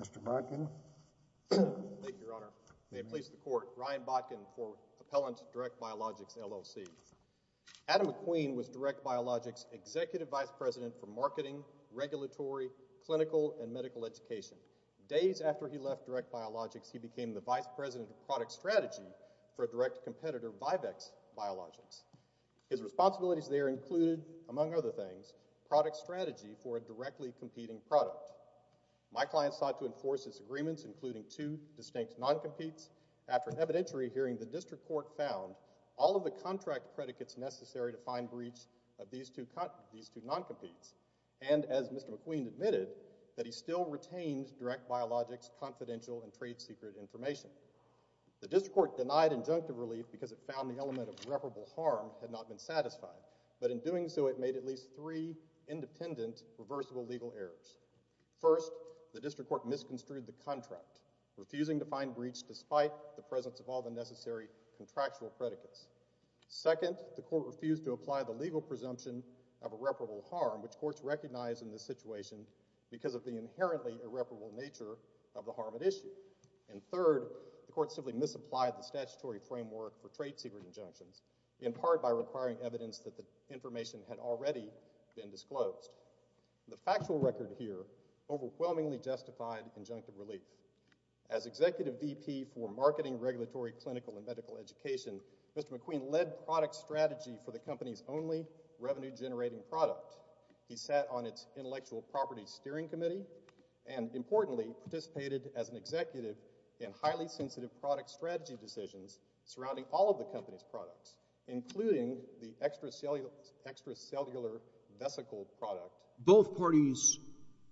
Mr. Botkin May it please the Court, Ryan Botkin for Appellant Justice, Direct Biologics, LLC. Adam McQueen was Direct Biologics Executive Vice President for Marketing, Regulatory, Clinical, and Medical Education. Days after he left Direct Biologics, he became the Vice President of Product Strategy for a direct competitor, Vivex Biologics. His responsibilities there included, among other things, product strategy for a directly competing product. My client sought to enforce his agreements, including two distinct non-competes after an evidentiary hearing, the District Court found all of the contract predicates necessary to find breach of these two non-competes. And as Mr. McQueen admitted, that he still retains Direct Biologics confidential and trade secret information. The District Court denied injunctive relief because it found the element of reparable harm had not been satisfied. But in doing so, it made at least three independent reversible legal errors. First, the District Court misconstrued the contract, refusing to find breach despite the presence of all the necessary contractual predicates. Second, the Court refused to apply the legal presumption of irreparable harm, which courts recognize in this situation because of the inherently irreparable nature of the harm at issue. And third, the Court simply misapplied the statutory framework for trade secret injunctions, in part by requiring evidence that the information had already been disclosed. The factual record here overwhelmingly justified injunctive relief. As Executive VP for Marketing, Regulatory, Clinical, and Medical Education, Mr. McQueen led product strategy for the company's only revenue-generating product. He sat on its Intellectual Property Steering Committee and, importantly, participated as an executive in highly sensitive product strategy decisions surrounding all of the company's products, including the extracellular vesicle product. Both parties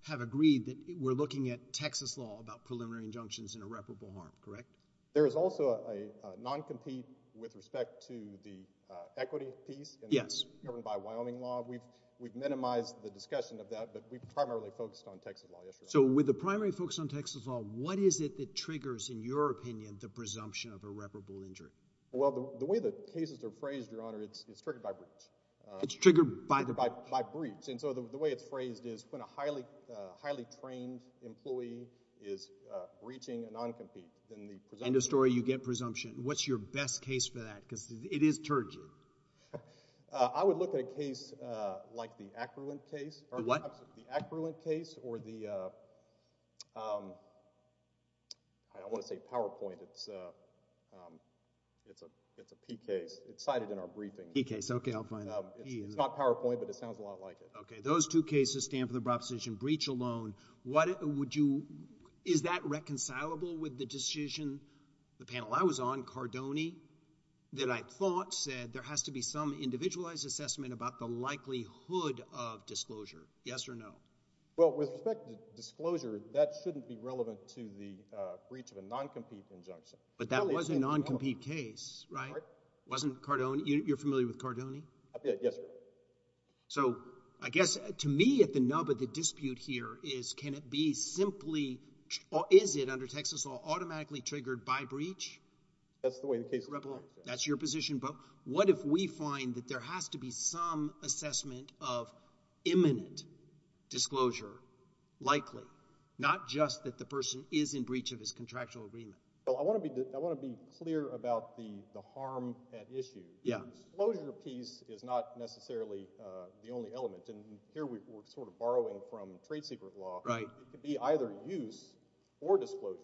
have agreed that we're looking at Texas law about preliminary injunctions in irreparable harm, correct? There is also a non-compete with respect to the equity piece governed by Wyoming law. We've minimized the discussion of that, but we've primarily focused on Texas law. So with the primary focus on Texas law, what is it that triggers, in your opinion, the presumption of irreparable injury? Well, the way the cases are phrased, Your Honor, it's triggered by breach. It's triggered by the breach. By breach. And so the way it's phrased is when a highly trained employee is breaching a non-compete, then the presumption... End of story, you get presumption. What's your best case for that? Because it is turgid. I would look at a case like the Ackruent case. The what? It's a P case. It's cited in our briefing. P case, okay, I'll find it. It's not PowerPoint, but it sounds a lot like it. Okay, those two cases stand for the proposition breach alone. What would you... Is that reconcilable with the decision, the panel I was on, Cardone, that I thought said there has to be some individualized assessment about the likelihood of disclosure? Yes or no? Well, with respect to disclosure, that shouldn't be relevant to the breach of a non-compete injunction. But that was a non-compete case, right? Wasn't Cardone... You're familiar with Cardone? Yes, sir. So, I guess, to me, at the nub of the dispute here is, can it be simply... Or is it, under Texas law, automatically triggered by breach? That's the way the case is represented. That's your position, but what if we find that there has to be some assessment of imminent disclosure likely? Not just that the person is in breach of his contractual agreement. Well, I want to be clear about the harm at issue. Yeah. Disclosure piece is not necessarily the only element, and here we're sort of borrowing from trade secret law. Right. It could be either use or disclosure.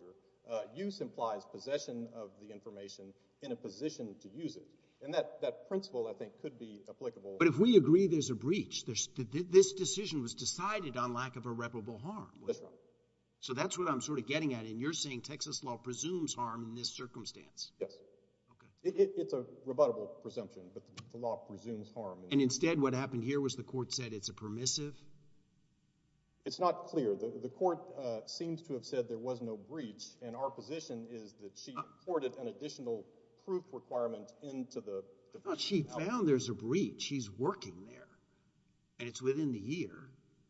Use implies possession of the information in a position to use it. And that principle, I think, could be applicable. But if we agree there's a breach, this decision was decided on lack of irreparable harm. That's right. So that's what I'm sort of getting at, and you're saying Texas law presumes harm in this circumstance? Yes. Okay. It's a rebuttable presumption, but the law presumes harm. And instead, what happened here was the court said it's a permissive? It's not clear. The court seems to have said there was no breach, and our position is that she imported an additional proof requirement into the... She found there's a breach. He's working there, and it's within the year.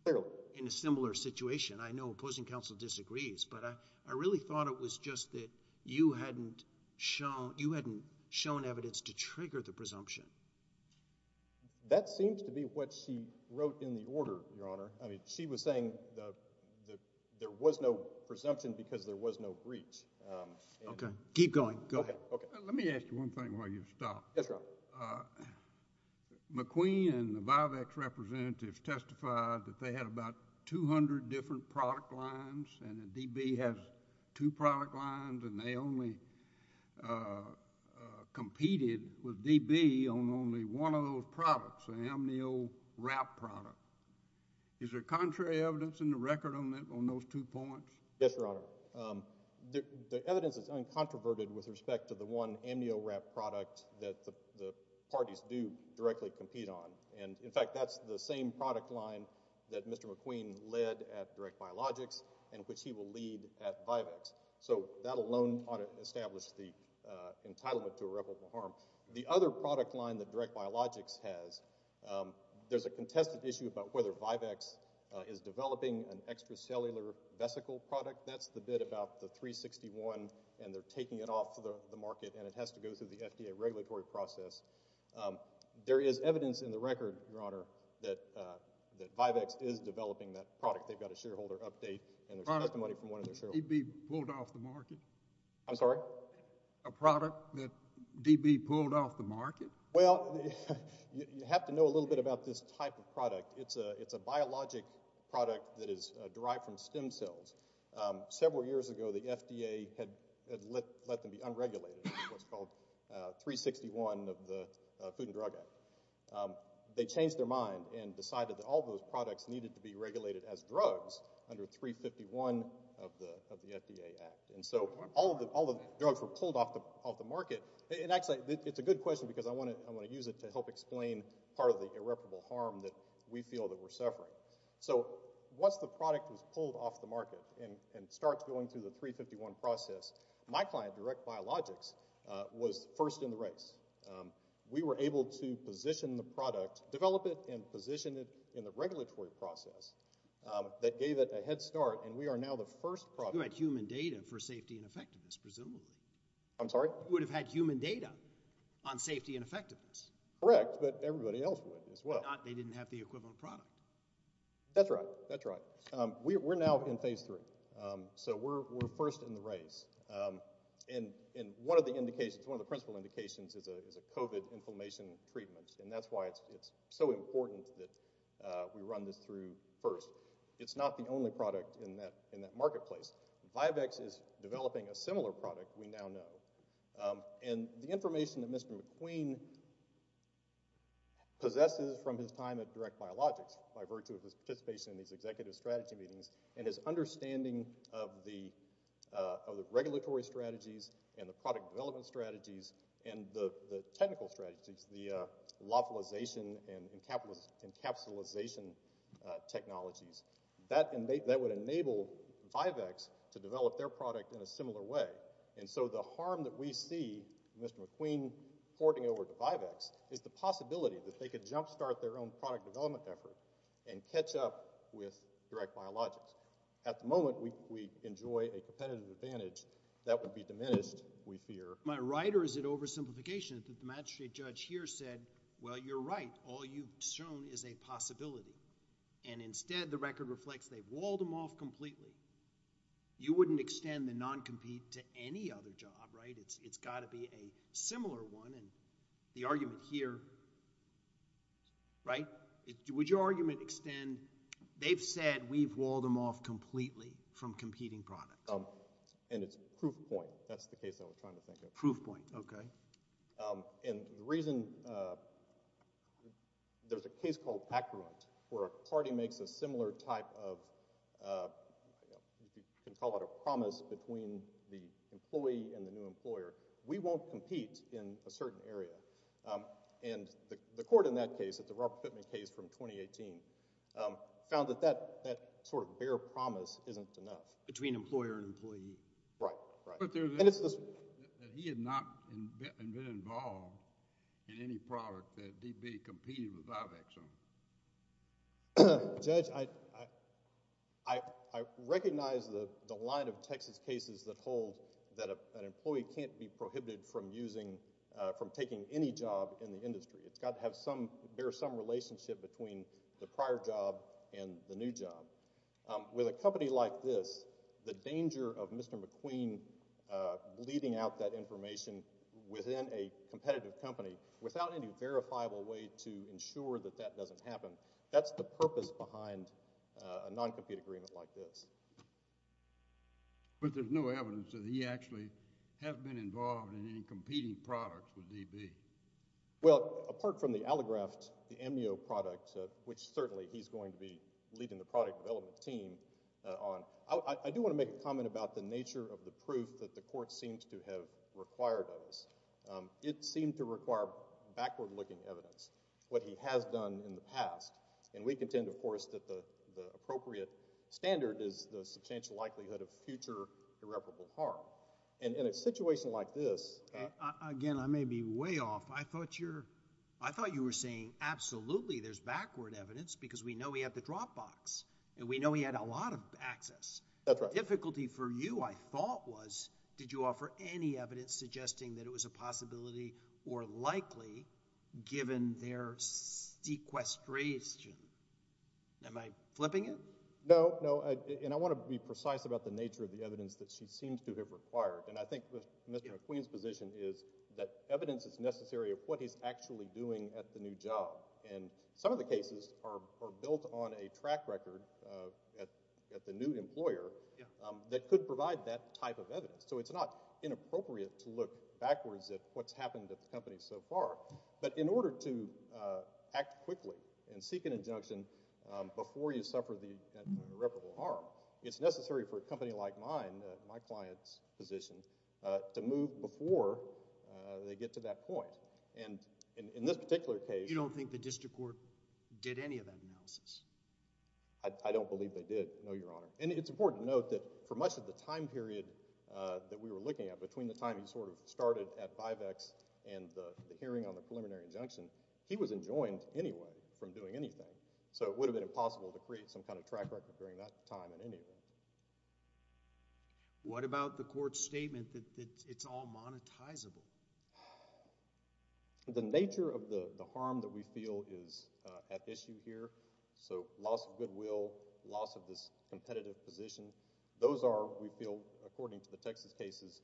Fairly. And I think in a similar situation, I know opposing counsel disagrees, but I really thought it was just that you hadn't shown evidence to trigger the presumption. That seems to be what she wrote in the order, Your Honor. I mean, she was saying there was no presumption because there was no breach. Okay. Keep going. Go ahead. Okay. Let me ask you one thing while you stop. Yes, Your Honor. So McQueen and the VIVAX representatives testified that they had about 200 different product lines, and that DB has two product lines, and they only competed with DB on only one of those products, an amnio wrap product. Is there contrary evidence in the record on those two points? Yes, Your Honor. The evidence is uncontroverted with respect to the one amnio wrap product that the parties do directly compete on, and in fact, that's the same product line that Mr. McQueen led at DirectBiologics and which he will lead at VIVAX. So that alone ought to establish the entitlement to irreparable harm. The other product line that DirectBiologics has, there's a contested issue about whether VIVAX is developing an extracellular vesicle product. That's the bit about the 361, and they're taking it off the market, and it has to go through the FDA regulatory process. There is evidence in the record, Your Honor, that VIVAX is developing that product. They've got a shareholder update, and there's testimony from one of their shareholders. A product that DB pulled off the market? Well, you have to know a little bit about this type of product. It's a biologic product that is derived from stem cells. Several years ago, the FDA had let them be unregulated, what's called 361 of the Food and Drug Act. They changed their mind and decided that all those products needed to be regulated as drugs under 351 of the FDA Act, and so all of the drugs were pulled off the market, and actually, it's a good question because I want to use it to help explain part of the irreparable harm that we feel that we're suffering. So once the product was pulled off the market and starts going through the 351 process, my client, DirectBiologics, was first in the race. We were able to position the product, develop it, and position it in the regulatory process that gave it a head start, and we are now the first product. You had human data for safety and effectiveness, presumably. I'm sorry? You would have had human data on safety and effectiveness. Correct, but everybody else would as well. If not, they didn't have the equivalent product. That's right. That's right. We're now in phase three, so we're first in the race, and one of the indications, one of the principal indications is a COVID inflammation treatment, and that's why it's so important that we run this through first. It's not the only product in that marketplace. Vivex is developing a similar product we now know, and the information that Mr. McQueen possesses from his time at DirectBiologics by virtue of his participation in these executive strategy meetings and his understanding of the regulatory strategies and the product development strategies and the technical strategies, the localization and encapsulization technologies, that would enable Vivex to develop their product in a similar way, and so the harm that we see Mr. McQueen porting over to Vivex is the possibility that they could jumpstart their own product development effort and catch up with DirectBiologics. At the moment, we enjoy a competitive advantage that would be diminished, we fear. Am I right or is it oversimplification that the magistrate judge here said, well, you're right, all you've shown is a possibility, and instead the record reflects they've walled them off completely. You wouldn't extend the non-compete to any other job, right? It's got to be a similar one, and the argument here, right, would your argument extend they've said we've walled them off completely from competing products? And it's a proof point. That's the case that we're trying to think of. Proof point. Okay. And the reason, there's a case called Accurant, where a party makes a similar type of, you know, claim that they're not competing with Vivex on any product, and the judge says, well, we're not competing with Vivex on any product, we're competing with DirectBiologics on any product. We won't compete in a certain area. And the court in that case, the Robert Pittman case from 2018, found that that sort of bare promise isn't enough. Between employer and employee. Right. Right. But there's... And it's... He had not been involved in any product that DB competed with Vivex on. Judge, I recognize the line of Texas cases that hold that an employee can't be prohibited from using, from taking any job in the industry. It's got to have some, bear some relationship between the prior job and the new job. With a company like this, the danger of Mr. McQueen bleeding out that information within a competitive company, without any verifiable way to ensure that that doesn't happen, that's the purpose behind a non-compete agreement like this. But there's no evidence that he actually has been involved in any competing products with DB. Well, apart from the Allograft, the MEO product, which certainly he's going to be leading the product development team on, I do want to make a comment about the nature of the proof that the court seems to have required of us. It seemed to require backward-looking evidence, what he has done in the past. And we contend, of course, that the appropriate standard is the substantial likelihood of future irreparable harm. And in a situation like this— Again, I may be way off. I thought you were saying, absolutely, there's backward evidence, because we know he had the Dropbox, and we know he had a lot of access. That's right. The difficulty for you, I thought, was did you offer any evidence suggesting that it was a possibility or likely, given their sequestration? Am I flipping it? No, no. And I want to be precise about the nature of the evidence that she seems to have required. And I think Mr. McQueen's position is that evidence is necessary of what he's actually doing at the new job. And some of the cases are built on a track record at the new employer that could provide that type of evidence. So it's not inappropriate to look backwards at what's happened at the company so far. But in order to act quickly and seek an injunction before you suffer the irreparable harm, it's necessary for a company like mine, my client's position, to move before they get to that point. And in this particular case— You don't think the district court did any of that analysis? I don't believe they did, no, Your Honor. And it's important to note that for much of the time period that we were looking at, between the time he sort of started at Vivex and the hearing on the preliminary injunction, he was enjoined anyway from doing anything. So it would have been impossible to create some kind of track record during that time in any event. What about the court's statement that it's all monetizable? The nature of the harm that we feel is at issue here. So loss of goodwill, loss of this competitive position, those are, we feel, according to the Texas cases,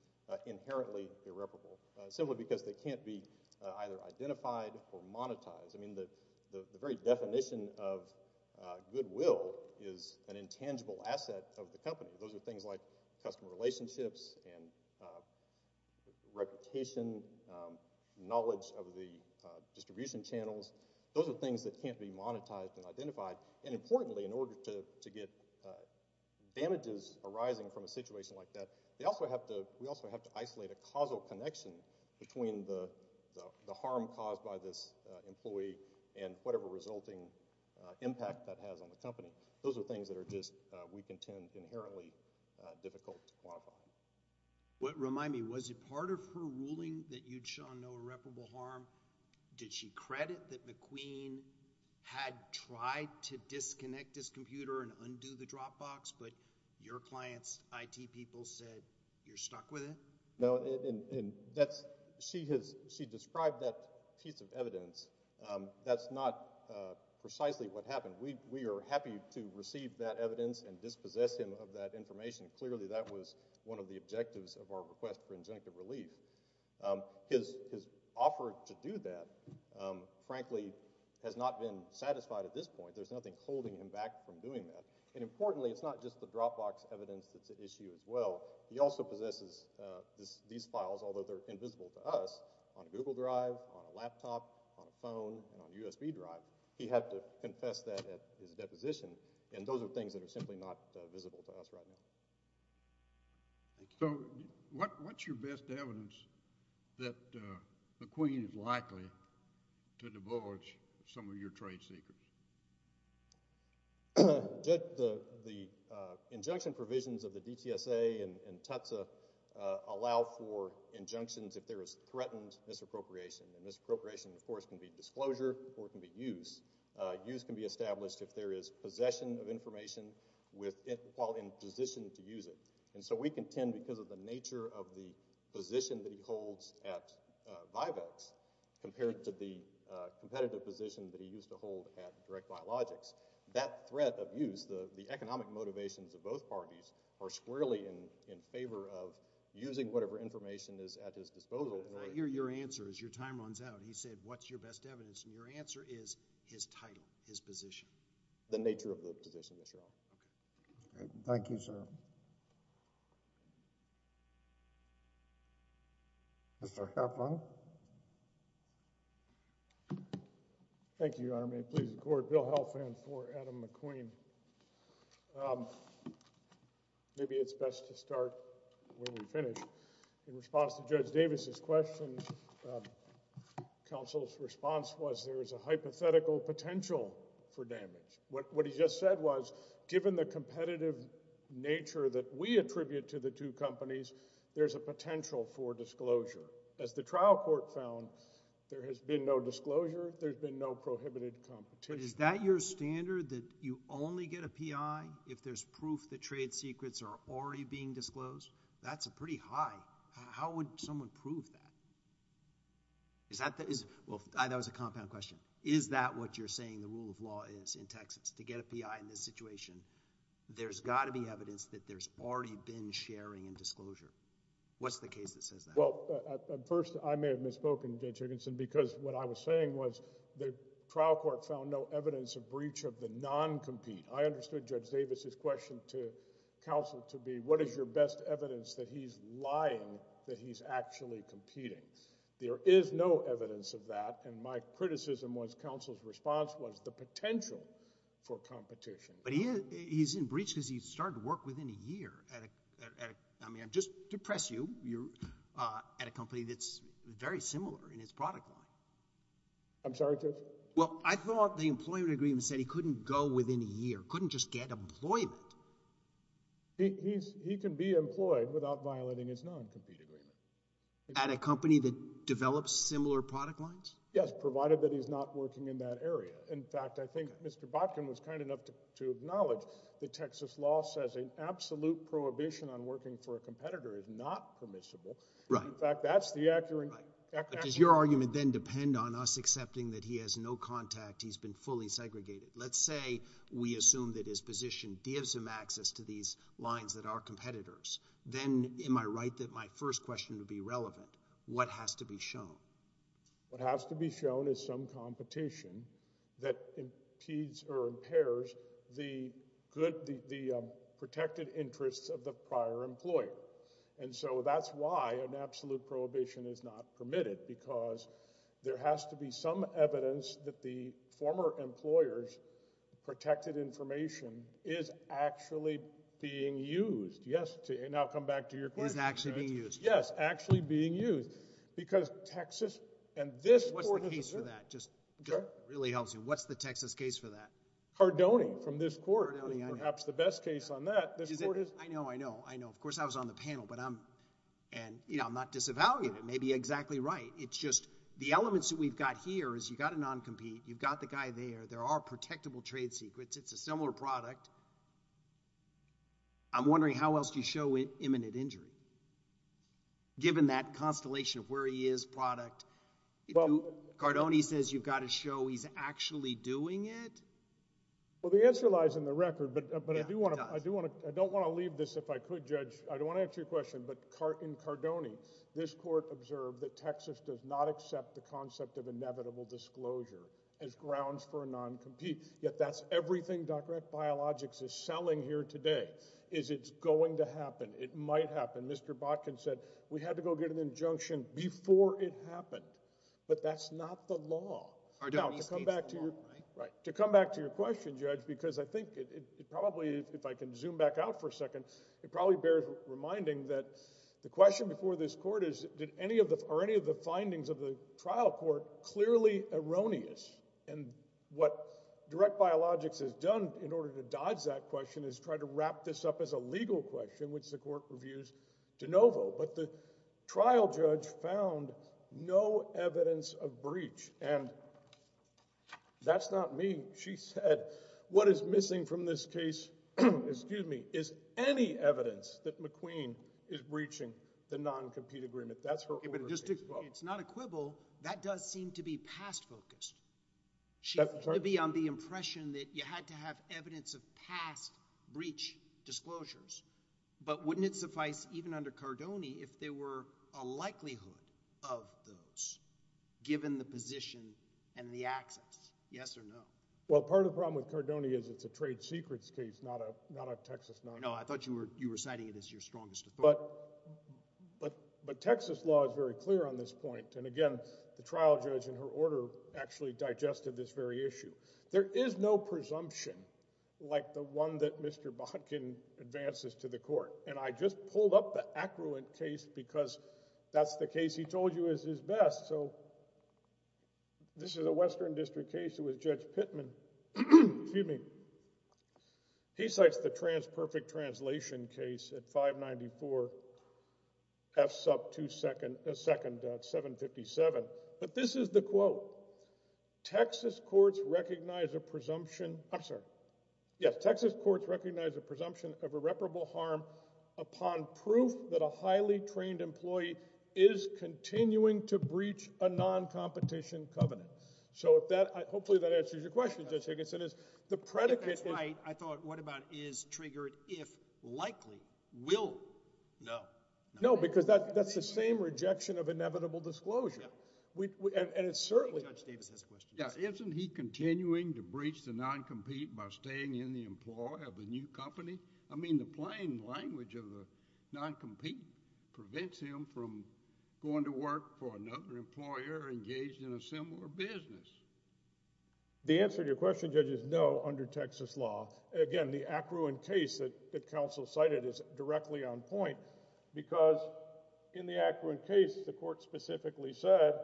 inherently irreparable, simply because they can't be either identified or monetized. I mean, the very definition of goodwill is an intangible asset of the company. Those are things like customer relationships and reputation, knowledge of the distribution channels. Those are things that can't be monetized and identified. And importantly, in order to get damages arising from a situation like that, we also have to isolate a causal connection between the harm caused by this employee and whatever resulting impact that has on the company. Those are things that are just, we contend, inherently difficult to quantify. Remind me, was it part of her ruling that you'd show no irreparable harm? Did she credit that McQueen had tried to disconnect his computer and undo the dropbox, but your client's IT people said you're stuck with it? No, and that's, she has, she described that piece of evidence. That's not precisely what happened. We are happy to receive that evidence and dispossess him of that information. Clearly, that was one of the objectives of our request for injunctive relief. His offer to do that, frankly, has not been satisfied at this point. There's nothing holding him back from doing that. And importantly, it's not just the dropbox evidence that's at issue as well. He also possesses these files, although they're invisible to us, on a Google Drive, on a laptop, on a phone, and on a USB drive. He had to confess that at his deposition, and those are things that are simply not visible to us right now. So what's your best evidence that McQueen is likely to divulge some of your trade secrets? The injunction provisions of the DTSA and TUTSA allow for injunctions if there is threatened misappropriation, and misappropriation, of course, can be disclosure or it can be use. Use can be established if there is possession of information while in position to use it. And so we contend, because of the nature of the position that he holds at Vivex, compared to the competitive position that he used to hold at DirectBiologics, that threat of use, the economic motivations of both parties, are squarely in favor of using whatever information is at his disposal. I hear your answer as your time runs out. He said, what's your best evidence? And your answer is his title, his position. The nature of the position, yes, Your Honor. Okay. Thank you, sir. Mr. Halfman? Thank you, Your Honor. May it please the Court, Bill Halfman for Adam McQueen. Maybe it's best to start when we finish. In response to Judge Davis' question, counsel's response was there is a hypothetical potential for damage. What he just said was, given the competitive nature that we attribute to the two companies, there's a potential for disclosure. As the trial court found, there has been no disclosure. There's been no prohibited competition. But is that your standard, that you only get a P.I. if there's proof that trade secrets are already being disclosed? That's pretty high. How would someone prove that? Is that... well, that was a compound question. Is that what you're saying the rule of law is in Texas, to get a P.I. in this situation? There's got to be evidence that there's already been sharing and disclosure. What's the case that says that? Well, first, I may have misspoken, Judge Higginson, because what I was saying was the trial court found no evidence of breach of the non-compete. I understood Judge Davis's question to counsel to be, what is your best evidence that he's lying that he's actually competing? There is no evidence of that, and my criticism was counsel's response was the potential for competition. But he's in breach because he started work within a year at a... I mean, I'm just depressed you're at a company that's very similar in its product line. I'm sorry, Judge? Well, I thought the employment agreement said he couldn't go within a year, couldn't just get employment. He can be employed without violating his non-compete agreement. At a company that develops similar product lines? Yes, provided that he's not working in that area. In fact, I think Mr. Botkin was kind enough to acknowledge that Texas law says an absolute prohibition on working for a competitor is not permissible. In fact, that's the accurate... But does your argument then depend on us accepting that he has no contact, he's been fully segregated? Let's say we assume that his position gives him access to these lines that are competitors. Then am I right that my first question would be relevant? What has to be shown? What has to be shown is some competition that impedes or impairs the good... the protected interests of the prior employer. That's why an absolute prohibition is not permitted because there has to be some evidence that the former employer's protected information is actually being used. Yes, and I'll come back to your question. Is actually being used. Yes, actually being used because Texas... What's the case for that? It really helps you. What's the Texas case for that? Hardoni from this court is perhaps the best case on that. I know, I know, I know. Of course, I was on the panel, but I'm not disavowing it. It may be exactly right. It's just the elements that we've got here is you've got a non-compete. You've got the guy there. There are protectable trade secrets. It's a similar product. I'm wondering how else do you show imminent injury given that constellation of where he is, product? Hardoni says you've got to show he's actually doing it. Well, the answer lies in the record, but I do want to... I don't want to leave this if I could, Judge. I don't want to answer your question, but in Hardoni, this court observed that Texas does not accept the concept of inevitable disclosure as grounds for a non-compete, yet that's everything Docrat Biologics is selling here today is it's going to happen. It might happen. Mr. Botkin said we had to go get an injunction before it happened, but that's not the law. Hardoni speaks the law. Right. To come back to your question, Judge, because I think it probably, if I can zoom back out for a second, it probably bears reminding that the question before this court is are any of the findings of the trial court clearly erroneous? And what Direct Biologics has done in order to dodge that question is try to wrap this up as a legal question, which the court reviews de novo. But the trial judge found no evidence of breach, and that's not me. She said what is missing from this case is any evidence that McQueen is breaching the non-compete agreement. That's her order. It's not a quibble. That does seem to be past focused. She could be on the impression that you had to have evidence of past breach disclosures, but wouldn't it suffice even under Cardoni if there were a likelihood of those given the position and the access? Yes or no? Well, part of the problem with Cardoni is it's a trade secrets case, not a Texas non-compete. No, I thought you were citing it as your strongest authority. But Texas law is very clear on this point. And again, the trial judge in her order actually digested this very issue. There is no presumption like the one that Mr. Bodkin advances to the court, and I just pulled up the accurate case because that's the case he told you is his best. So this is a Western District case. It was Judge Pittman. Excuse me. He cites the trans perfect translation case at 594 F sub 2 second 757. But this is the quote. Texas courts recognize a presumption. I'm sorry. Yes, Texas courts recognize a presumption of irreparable harm upon proof that a highly trained employee is continuing to breach a non-competition covenant. So hopefully that answers your question, Judge Higginson. That's right. I thought, what about is triggered if likely? Will? No. No, because that's the same rejection of inevitable disclosure. I think Judge Davis has a question. Isn't he continuing to breach the non-compete by staying in the employ of a new company? I mean, the plain language of the non-compete prevents him from going to work for another employer engaged in a similar business. The answer to your question, Judge, is no under Texas law. Again, the accruant case that counsel cited is directly on point because in the accruant case, the court specifically said,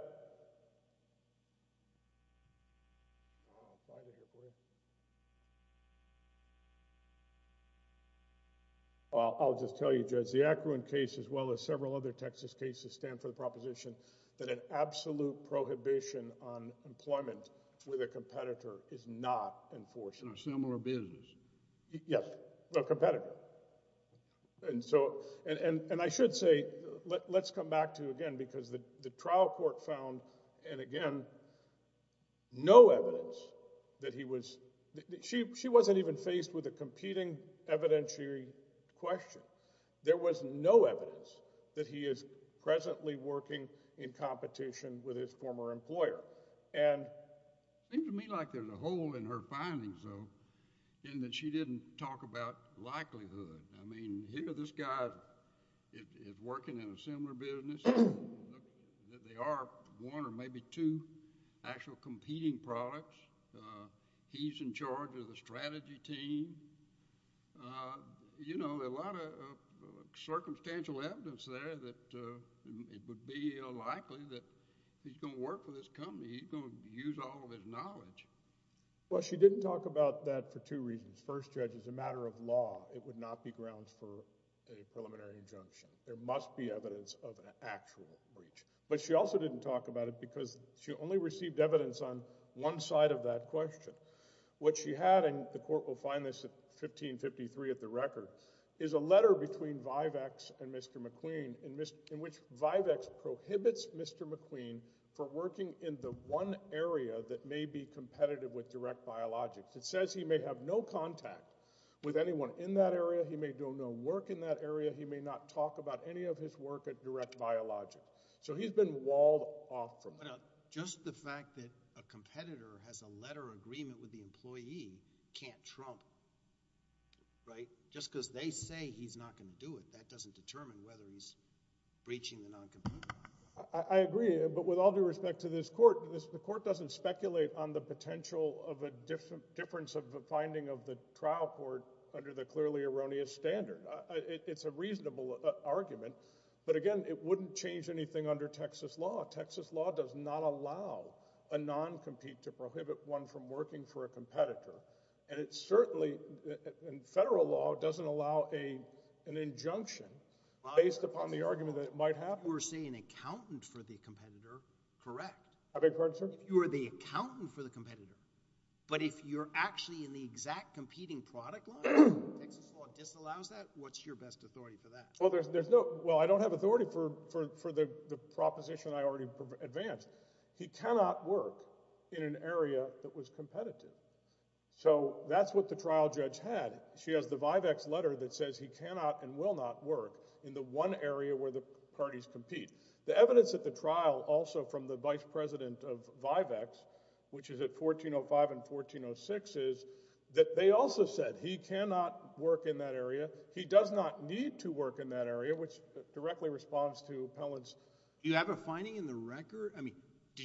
I'll just tell you, Judge, the accruant case as well as several other Texas cases stand for the proposition that an absolute prohibition on employment with a competitor is not enforced in a similar business. Yes, a competitor. And I should say, let's come back to, again, because the trial court found, and again, no evidence that he was—she wasn't even faced with a competing evidentiary question. There was no evidence that he is presently working in competition with his former employer. And it seems to me like there's a hole in her findings, though, in that she didn't talk about likelihood. I mean, here this guy is working in a similar business. They are one or maybe two actual competing products. He's in charge of the strategy team. You know, there's a lot of circumstantial evidence there that it would be unlikely that he's going to work for this company. He's going to use all of his knowledge. Well, she didn't talk about that for two reasons. First, Judge, as a matter of law, it would not be grounds for a preliminary injunction. There must be evidence of an actual breach. But she also didn't talk about it because she only received evidence on one side of that question. What she had, and the court will find this at 1553 at the record, is a letter between Vivex and Mr. McQueen in which Vivex prohibits Mr. McQueen from working in the one area that may be competitive with DirectBiologics. It says he may have no contact with anyone in that area. He may do no work in that area. He may not talk about any of his work at DirectBiologics. So he's been walled off from that. Now, just the fact that a competitor has a letter of agreement with the employee can't trump, right? Just because they say he's not going to do it, that doesn't determine whether he's breaching the non-competition. I agree, but with all due respect to this court, the court doesn't speculate on the potential of a difference of the finding of the trial court under the clearly erroneous standard. It's a reasonable argument, but again, it wouldn't change anything under Texas law. Texas law does not allow a non-compete to prohibit one from working for a competitor. And it certainly, in federal law, doesn't allow an injunction based upon the argument that it might happen. You were saying accountant for the competitor, correct? I beg your pardon, sir? You are the accountant for the competitor, but if you're actually in the exact competing product line and Texas law disallows that, what's your best authority for that? Well, I don't have authority for the proposition I already advanced. He cannot work in an area that was competitive. So that's what the trial judge had. She has the Vivex letter that says he cannot and will not work in the one area where the parties compete. The evidence at the trial also from the vice president of Vivex, which is at 1405 and 1406, is that they also said he cannot work in that area. He does not need to work in that area, which directly responds to Pellin's— Did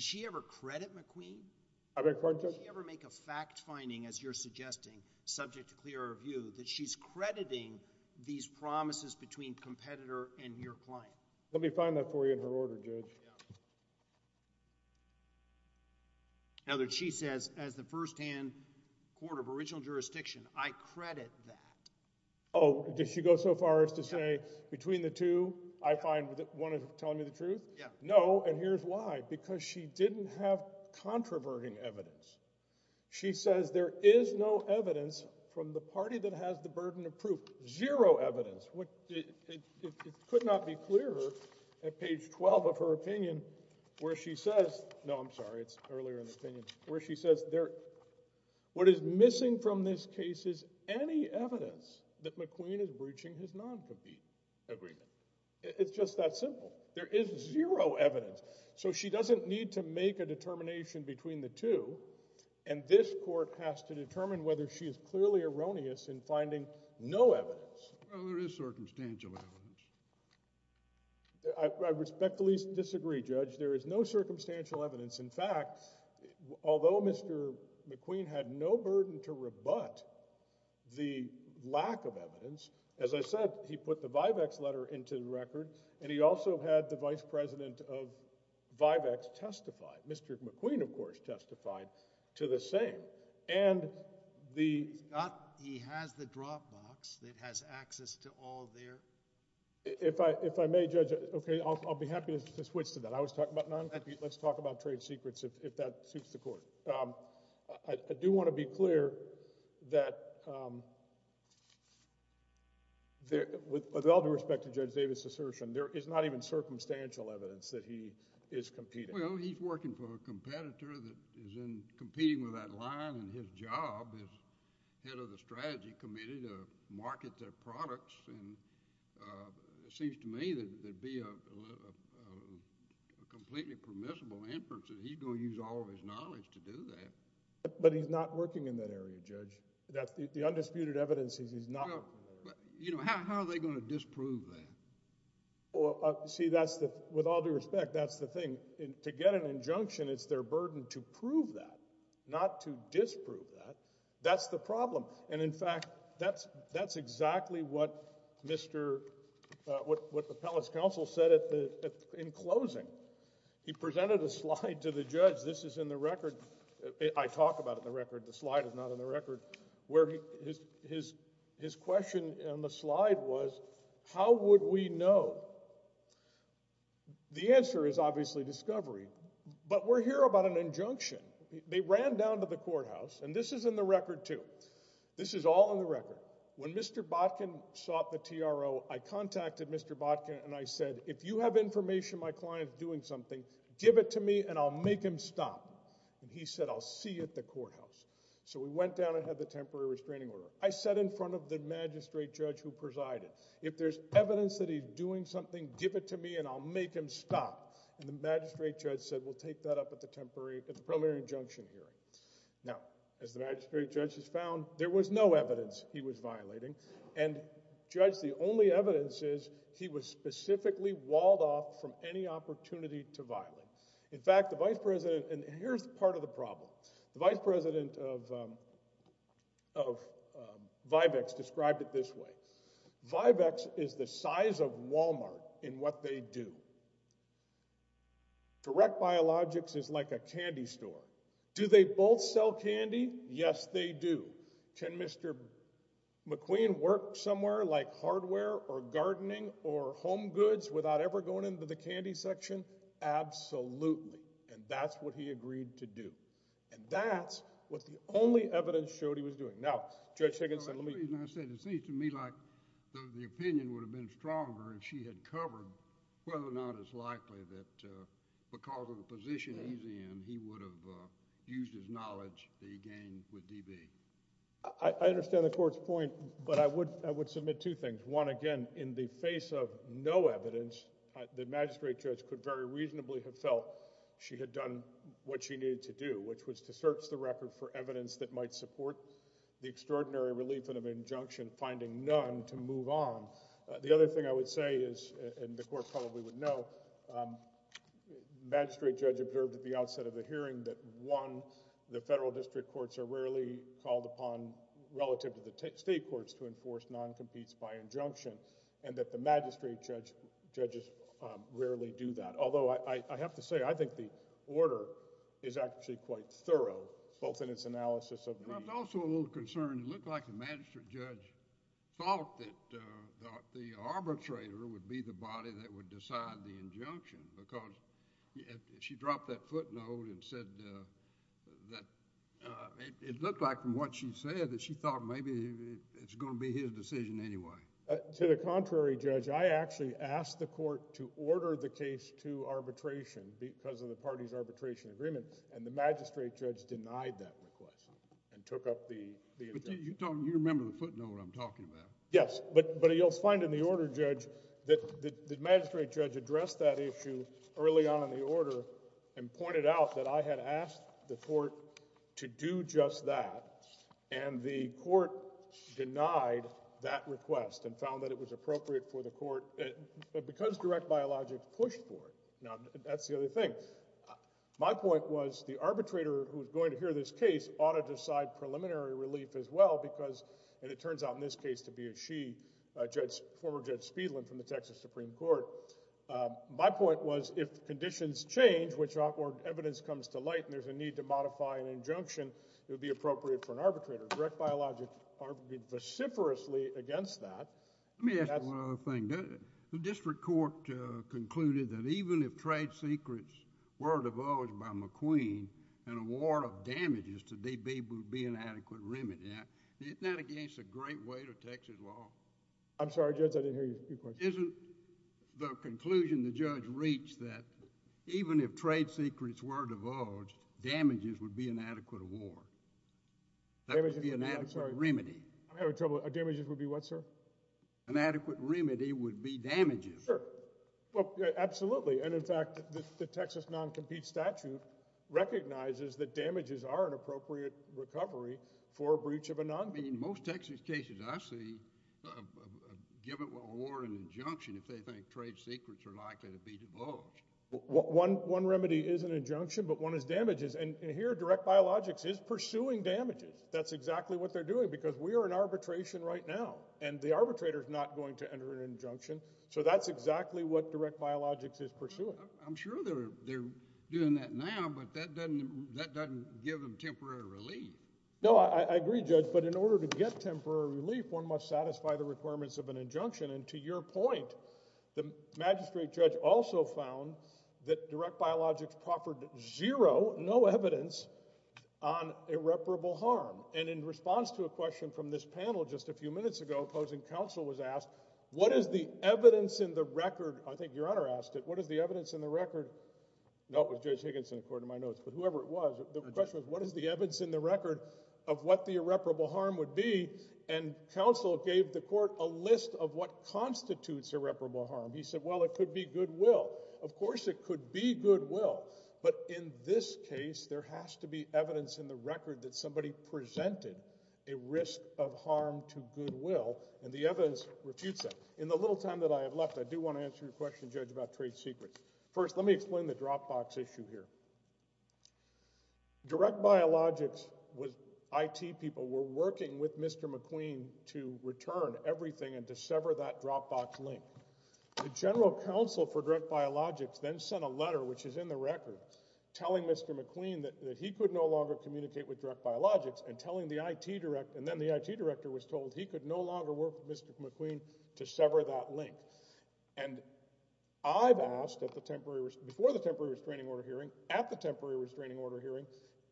she ever credit McQueen? I beg your pardon, sir? Did she ever make a fact finding, as you're suggesting, subject to clear review, that she's crediting these promises between competitor and your client? Let me find that for you in her order, Judge. Now that she says as the first-hand court of original jurisdiction, I credit that. Oh, did she go so far as to say between the two, I find one is telling me the truth? Yeah. No, and here's why. Because she didn't have controverting evidence. She says there is no evidence from the party that has the burden of proof, zero evidence. It could not be clearer at page 12 of her opinion where she says— no, I'm sorry, it's earlier in the opinion— where she says what is missing from this case is any evidence that McQueen is breaching his non-compete agreement. It's just that simple. There is zero evidence. So she doesn't need to make a determination between the two, and this court has to determine whether she is clearly erroneous in finding no evidence. Well, there is circumstantial evidence. I respectfully disagree, Judge. There is no circumstantial evidence. In fact, although Mr. McQueen had no burden to rebut the lack of evidence, as I said, he put the Vivex letter into the record, and he also had the vice president of Vivex testify. Mr. McQueen, of course, testified to the same. And the— He has the drop box that has access to all their— If I may, Judge, okay, I'll be happy to switch to that. I was talking about non— Let's talk about trade secrets if that suits the court. I do want to be clear that with all due respect to Judge Davis' assertion, there is not even circumstantial evidence that he is competing. Well, he's working for a competitor that is competing with that line, and his job is head of the strategy committee to market their products, and it seems to me that there'd be a completely permissible inference that he's going to use all of his knowledge to do that. But he's not working in that area, Judge. The undisputed evidence is he's not— Well, you know, how are they going to disprove that? See, that's the—with all due respect, that's the thing. To get an injunction, it's their burden to prove that, not to disprove that. That's the problem. And, in fact, that's exactly what Mr.— what the palace counsel said in closing. He presented a slide to the judge. This is in the record. I talk about it in the record. The slide is not in the record. His question on the slide was, how would we know? The answer is obviously discovery, but we're here about an injunction. They ran down to the courthouse, and this is in the record, too. This is all in the record. When Mr. Botkin sought the TRO, I contacted Mr. Botkin, and I said, if you have information my client is doing something, give it to me, and I'll make him stop. And he said, I'll see you at the courthouse. So we went down and had the temporary restraining order. I sat in front of the magistrate judge who presided. If there's evidence that he's doing something, give it to me, and I'll make him stop. And the magistrate judge said, we'll take that up at the temporary— at the preliminary injunction hearing. Now, as the magistrate judge has found, there was no evidence he was violating. And, judge, the only evidence is he was specifically walled off from any opportunity to violate. In fact, the vice president—and here's part of the problem. The vice president of Vivex described it this way. Vivex is the size of Walmart in what they do. Direct Biologics is like a candy store. Do they both sell candy? Yes, they do. Can Mr. McQueen work somewhere like hardware or gardening or home goods without ever going into the candy section? Absolutely. And that's what he agreed to do. And that's what the only evidence showed he was doing. Now, Judge Higginson, let me— I said, it seems to me like the opinion would have been stronger if she had covered whether or not it's likely that because of the position he's in, he would have used his knowledge that he gained with DB. I understand the court's point, but I would submit two things. One, again, in the face of no evidence, the magistrate judge could very reasonably have felt she had done what she needed to do, which was to search the record for evidence that might support the extraordinary relief in an injunction, finding none to move on. The other thing I would say is—and the court probably would know— is the hearing that, one, the federal district courts are rarely called upon, relative to the state courts, to enforce non-competes by injunction, and that the magistrate judges rarely do that. Although I have to say I think the order is actually quite thorough, both in its analysis of the— I was also a little concerned. It looked like the magistrate judge thought that the arbitrator would be the body that would decide the injunction because she dropped that footnote and said that— it looked like, from what she said, that she thought maybe it's going to be his decision anyway. To the contrary, Judge, I actually asked the court to order the case to arbitration because of the party's arbitration agreement, and the magistrate judge denied that request and took up the injunction. But you remember the footnote I'm talking about. Yes, but you'll find in the order, Judge, that the magistrate judge addressed that issue early on in the order and pointed out that I had asked the court to do just that, and the court denied that request and found that it was appropriate for the court— because direct biologics pushed for it. Now, that's the other thing. My point was the arbitrator who's going to hear this case ought to decide preliminary relief as well because— and it turns out in this case to be a she, former Judge Speedlin from the Texas Supreme Court. My point was if conditions change or evidence comes to light and there's a need to modify an injunction, it would be appropriate for an arbitrator. Direct biologics argued vociferously against that. Let me ask you one other thing. The district court concluded that even if trade secrets were divulged by McQueen and a warrant of damages to DB would be an adequate remedy, isn't that against the great weight of Texas law? I'm sorry, Judge. I didn't hear your question. Isn't the conclusion the judge reached that even if trade secrets were divulged, damages would be an adequate award? That would be an adequate remedy. I'm having trouble. Damages would be what, sir? An adequate remedy would be damages. Sure. Well, absolutely. And in fact, the Texas non-compete statute recognizes that damages are an appropriate recovery for a breach of a non-compete. In most Texas cases I see a given award and injunction if they think trade secrets are likely to be divulged. One remedy is an injunction, but one is damages. And here direct biologics is pursuing damages. That's exactly what they're doing because we are in arbitration right now, and the arbitrator is not going to enter an injunction. So that's exactly what direct biologics is pursuing. I'm sure they're doing that now, but that doesn't give them temporary relief. No, I agree, Judge. But in order to get temporary relief, one must satisfy the requirements of an injunction. And to your point, the magistrate judge also found that direct biologics proffered zero, no evidence on irreparable harm. And in response to a question from this panel just a few minutes ago, opposing counsel was asked, what is the evidence in the record? I think Your Honor asked it. What is the evidence in the record? No, it was Judge Higginson, according to my notes. But whoever it was, the question was, what is the evidence in the record of what the irreparable harm would be? And counsel gave the court a list of what constitutes irreparable harm. He said, well, it could be goodwill. Of course it could be goodwill. But in this case there has to be evidence in the record that somebody presented a risk of harm to goodwill, and the evidence refutes that. In the little time that I have left, I do want to answer your question, Judge, about trade secrets. First, let me explain the dropbox issue here. Direct biologics IT people were working with Mr. McQueen to return everything and to sever that dropbox link. The general counsel for direct biologics then sent a letter, which is in the record, telling Mr. McQueen that he could no longer communicate with direct biologics and then the IT director was told he could no longer work with Mr. McQueen to sever that link. And I've asked before the temporary restraining order hearing, at the temporary restraining order hearing,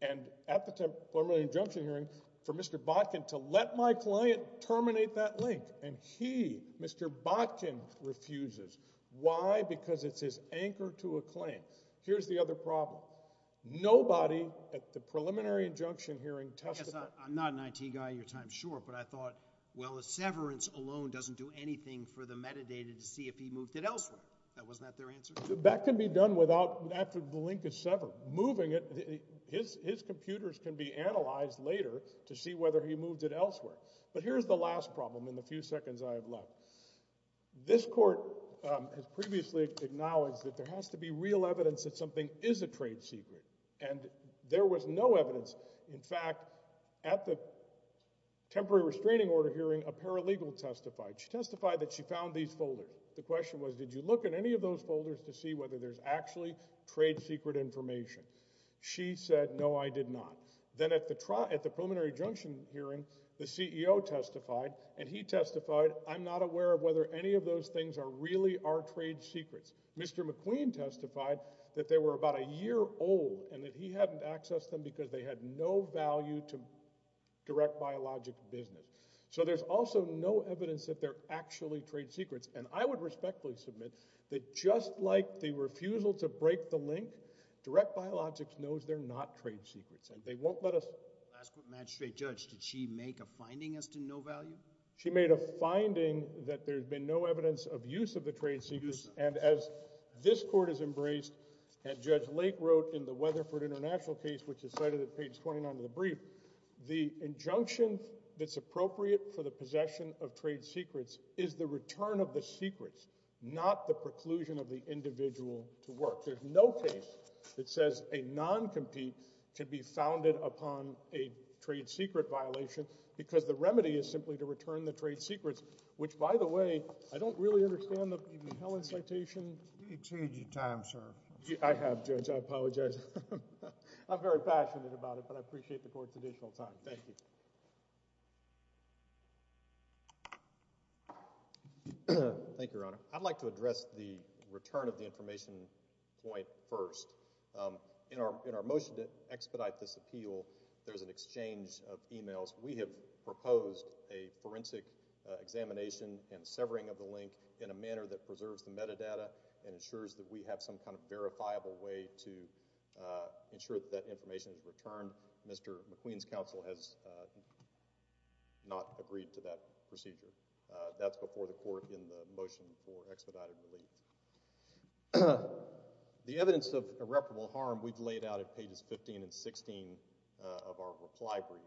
and at the preliminary injunction hearing, for Mr. Botkin to let my client terminate that link. And he, Mr. Botkin, refuses. Why? Because it's his anchor to a claim. Here's the other problem. Nobody at the preliminary injunction hearing testified. I guess I'm not an IT guy in your time, sure, but I thought, well, a severance alone doesn't do anything for the metadata to see if he moved it elsewhere. Wasn't that their answer? That can be done after the link is severed. Moving it, his computers can be analyzed later to see whether he moved it elsewhere. But here's the last problem in the few seconds I have left. This court has previously acknowledged that there has to be real evidence that something is a trade secret. And there was no evidence. In fact, at the temporary restraining order hearing, a paralegal testified. She testified that she found these folders. The question was, did you look at any of those folders to see whether there's actually trade secret information? She said, no, I did not. Then at the preliminary injunction hearing, the CEO testified, and he testified, I'm not aware of whether any of those things are really our trade secrets. Mr. McQueen testified that they were about a year old and that he hadn't accessed them because they had no value to direct biologic business. So there's also no evidence that they're actually trade secrets. And I would respectfully submit that just like the refusal to break the link, direct biologics knows they're not trade secrets. They won't let us... Last court magistrate, Judge, did she make a finding as to no value? She made a finding that there's been no evidence of use of the trade secrets. And as this court has embraced, and Judge Lake wrote in the Weatherford International case, which is cited at page 29 of the brief, the injunction that's appropriate for the possession of trade secrets is the return of the secrets, not the preclusion of the individual to work. There's no case that says a non-compete could be founded upon a trade secret violation because the remedy is simply to return the trade secrets, which, by the way, I don't really understand the Helen citation. You've exceeded your time, sir. I have, Judge, I apologize. I'm very passionate about it, but I appreciate the court's additional time. Thank you. Thank you, Your Honor. I'd like to address the return of the information point first. In our motion to expedite this appeal, there's an exchange of emails. We have proposed a forensic examination and severing of the link in a manner that preserves the metadata and ensures that we have some kind of verifiable way to ensure that that information is returned. Mr. McQueen's counsel has not agreed to that procedure. That's before the court in the motion for expedited relief. The evidence of irreparable harm we've laid out at pages 15 and 16 of our reply brief,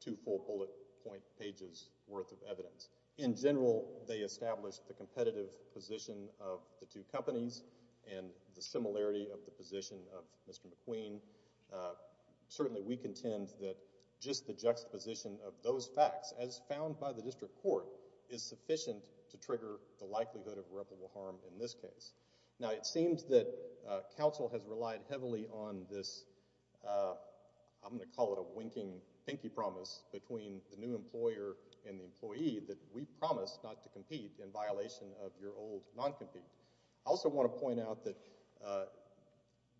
two full bullet point pages' worth of evidence. In general, they establish the competitive position of the two companies and the similarity of the position of Mr. McQueen. Certainly, we contend that just the juxtaposition of those facts, as found by the district court, is sufficient to trigger the likelihood of irreparable harm in this case. Now, it seems that counsel has relied heavily on this, I'm going to call it a winking pinky promise, between the new employer and the employee that we promise not to compete in violation of your old non-compete. I also want to point out that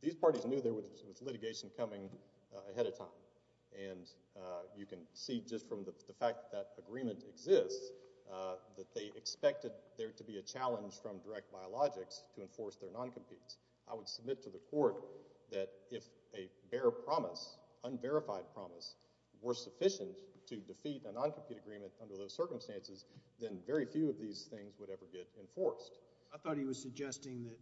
these parties knew there was litigation coming ahead of time, and you can see just from the fact that agreement exists that they expected there to be a challenge from direct biologics to enforce their non-competes. I would submit to the court that if a bare promise, unverified promise, were sufficient to defeat a non-compete agreement under those circumstances, then very few of these things would ever get enforced. I thought he was suggesting that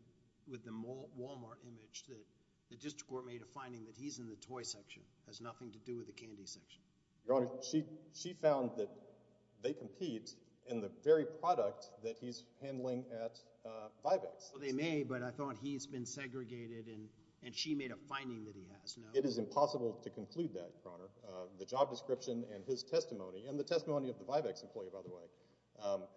with the Walmart image that the district court made a finding that he's in the toy section, has nothing to do with the candy section. Your Honor, she found that they compete in the very product that he's handling at Vivex. Well, they may, but I thought he's been segregated and she made a finding that he has, no? It is impossible to conclude that, Your Honor. The job description and his testimony, and the testimony of the Vivex employee, by the way,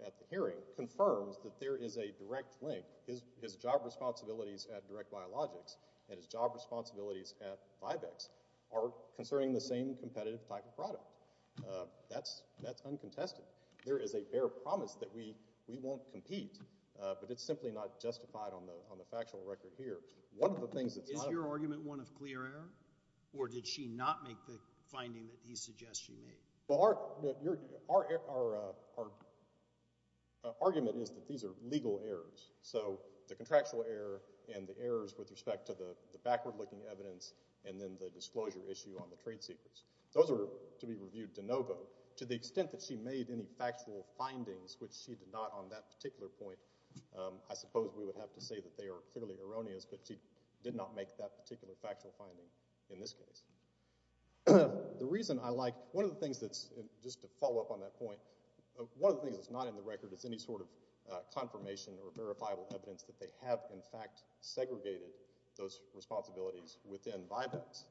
at the hearing confirms that there is a direct link. His job responsibilities at direct biologics and his job responsibilities at Vivex are concerning the same competitive type of product. That's uncontested. There is a bare promise that we won't compete, but it's simply not justified on the factual record here. Is your argument one of clear error, or did she not make the finding that he suggests she made? Our argument is that these are legal errors. So the contractual error and the errors with respect to the backward-looking evidence and then the disclosure issue on the trade secrets, those are to be reviewed de novo. To the extent that she made any factual findings, which she did not on that particular point, I suppose we would have to say that they are clearly erroneous, but she did not make that particular factual finding in this case. The reason I like... One of the things that's... Just to follow up on that point, one of the things that's not in the record is any sort of confirmation or verifiable evidence that they have in fact segregated those responsibilities within Vivex.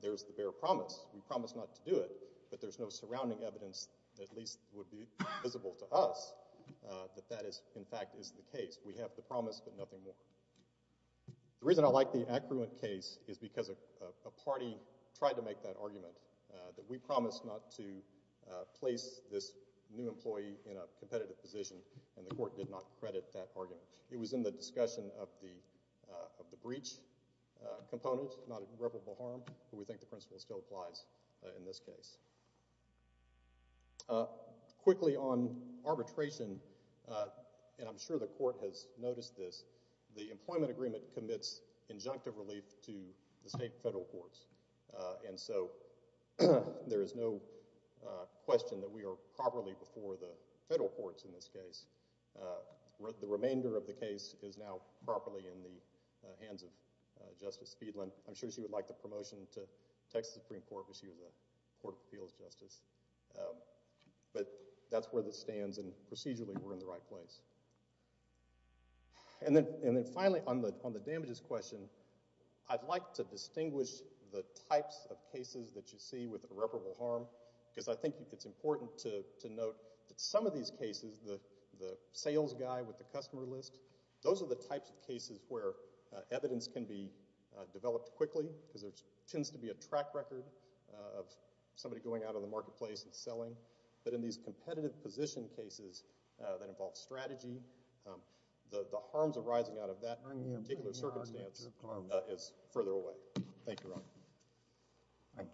There's the bare promise. We promise not to do it, but there's no surrounding evidence that at least would be visible to us that that is in fact is the case. We have the promise, but nothing more. The reason I like the Accruant case is because a party tried to make that argument that we promised not to place this new employee in a competitive position, and the court did not credit that argument. It was in the discussion of the breach component, not irreparable harm, but we think the principle still applies in this case. Quickly on arbitration, and I'm sure the court has noticed this, the employment agreement commits injunctive relief to the state and federal courts, and so there is no question that we are properly before the federal courts in this case. The remainder of the case is now properly in the hands of Justice Feedland. I'm sure she would like the promotion to Texas Supreme Court if she was a court of appeals justice, but that's where this stands, and procedurally we're in the right place. And then finally on the damages question, I'd like to distinguish the types of cases that you see with irreparable harm because I think it's important to note that some of these cases, the sales guy with the customer list, those are the types of cases where evidence can be developed quickly because there tends to be a track record of somebody going out on the marketplace and selling, but in these competitive position cases that involve strategy, the harms arising out of that particular circumstance is further away. Thank you, Your Honor. Thank you.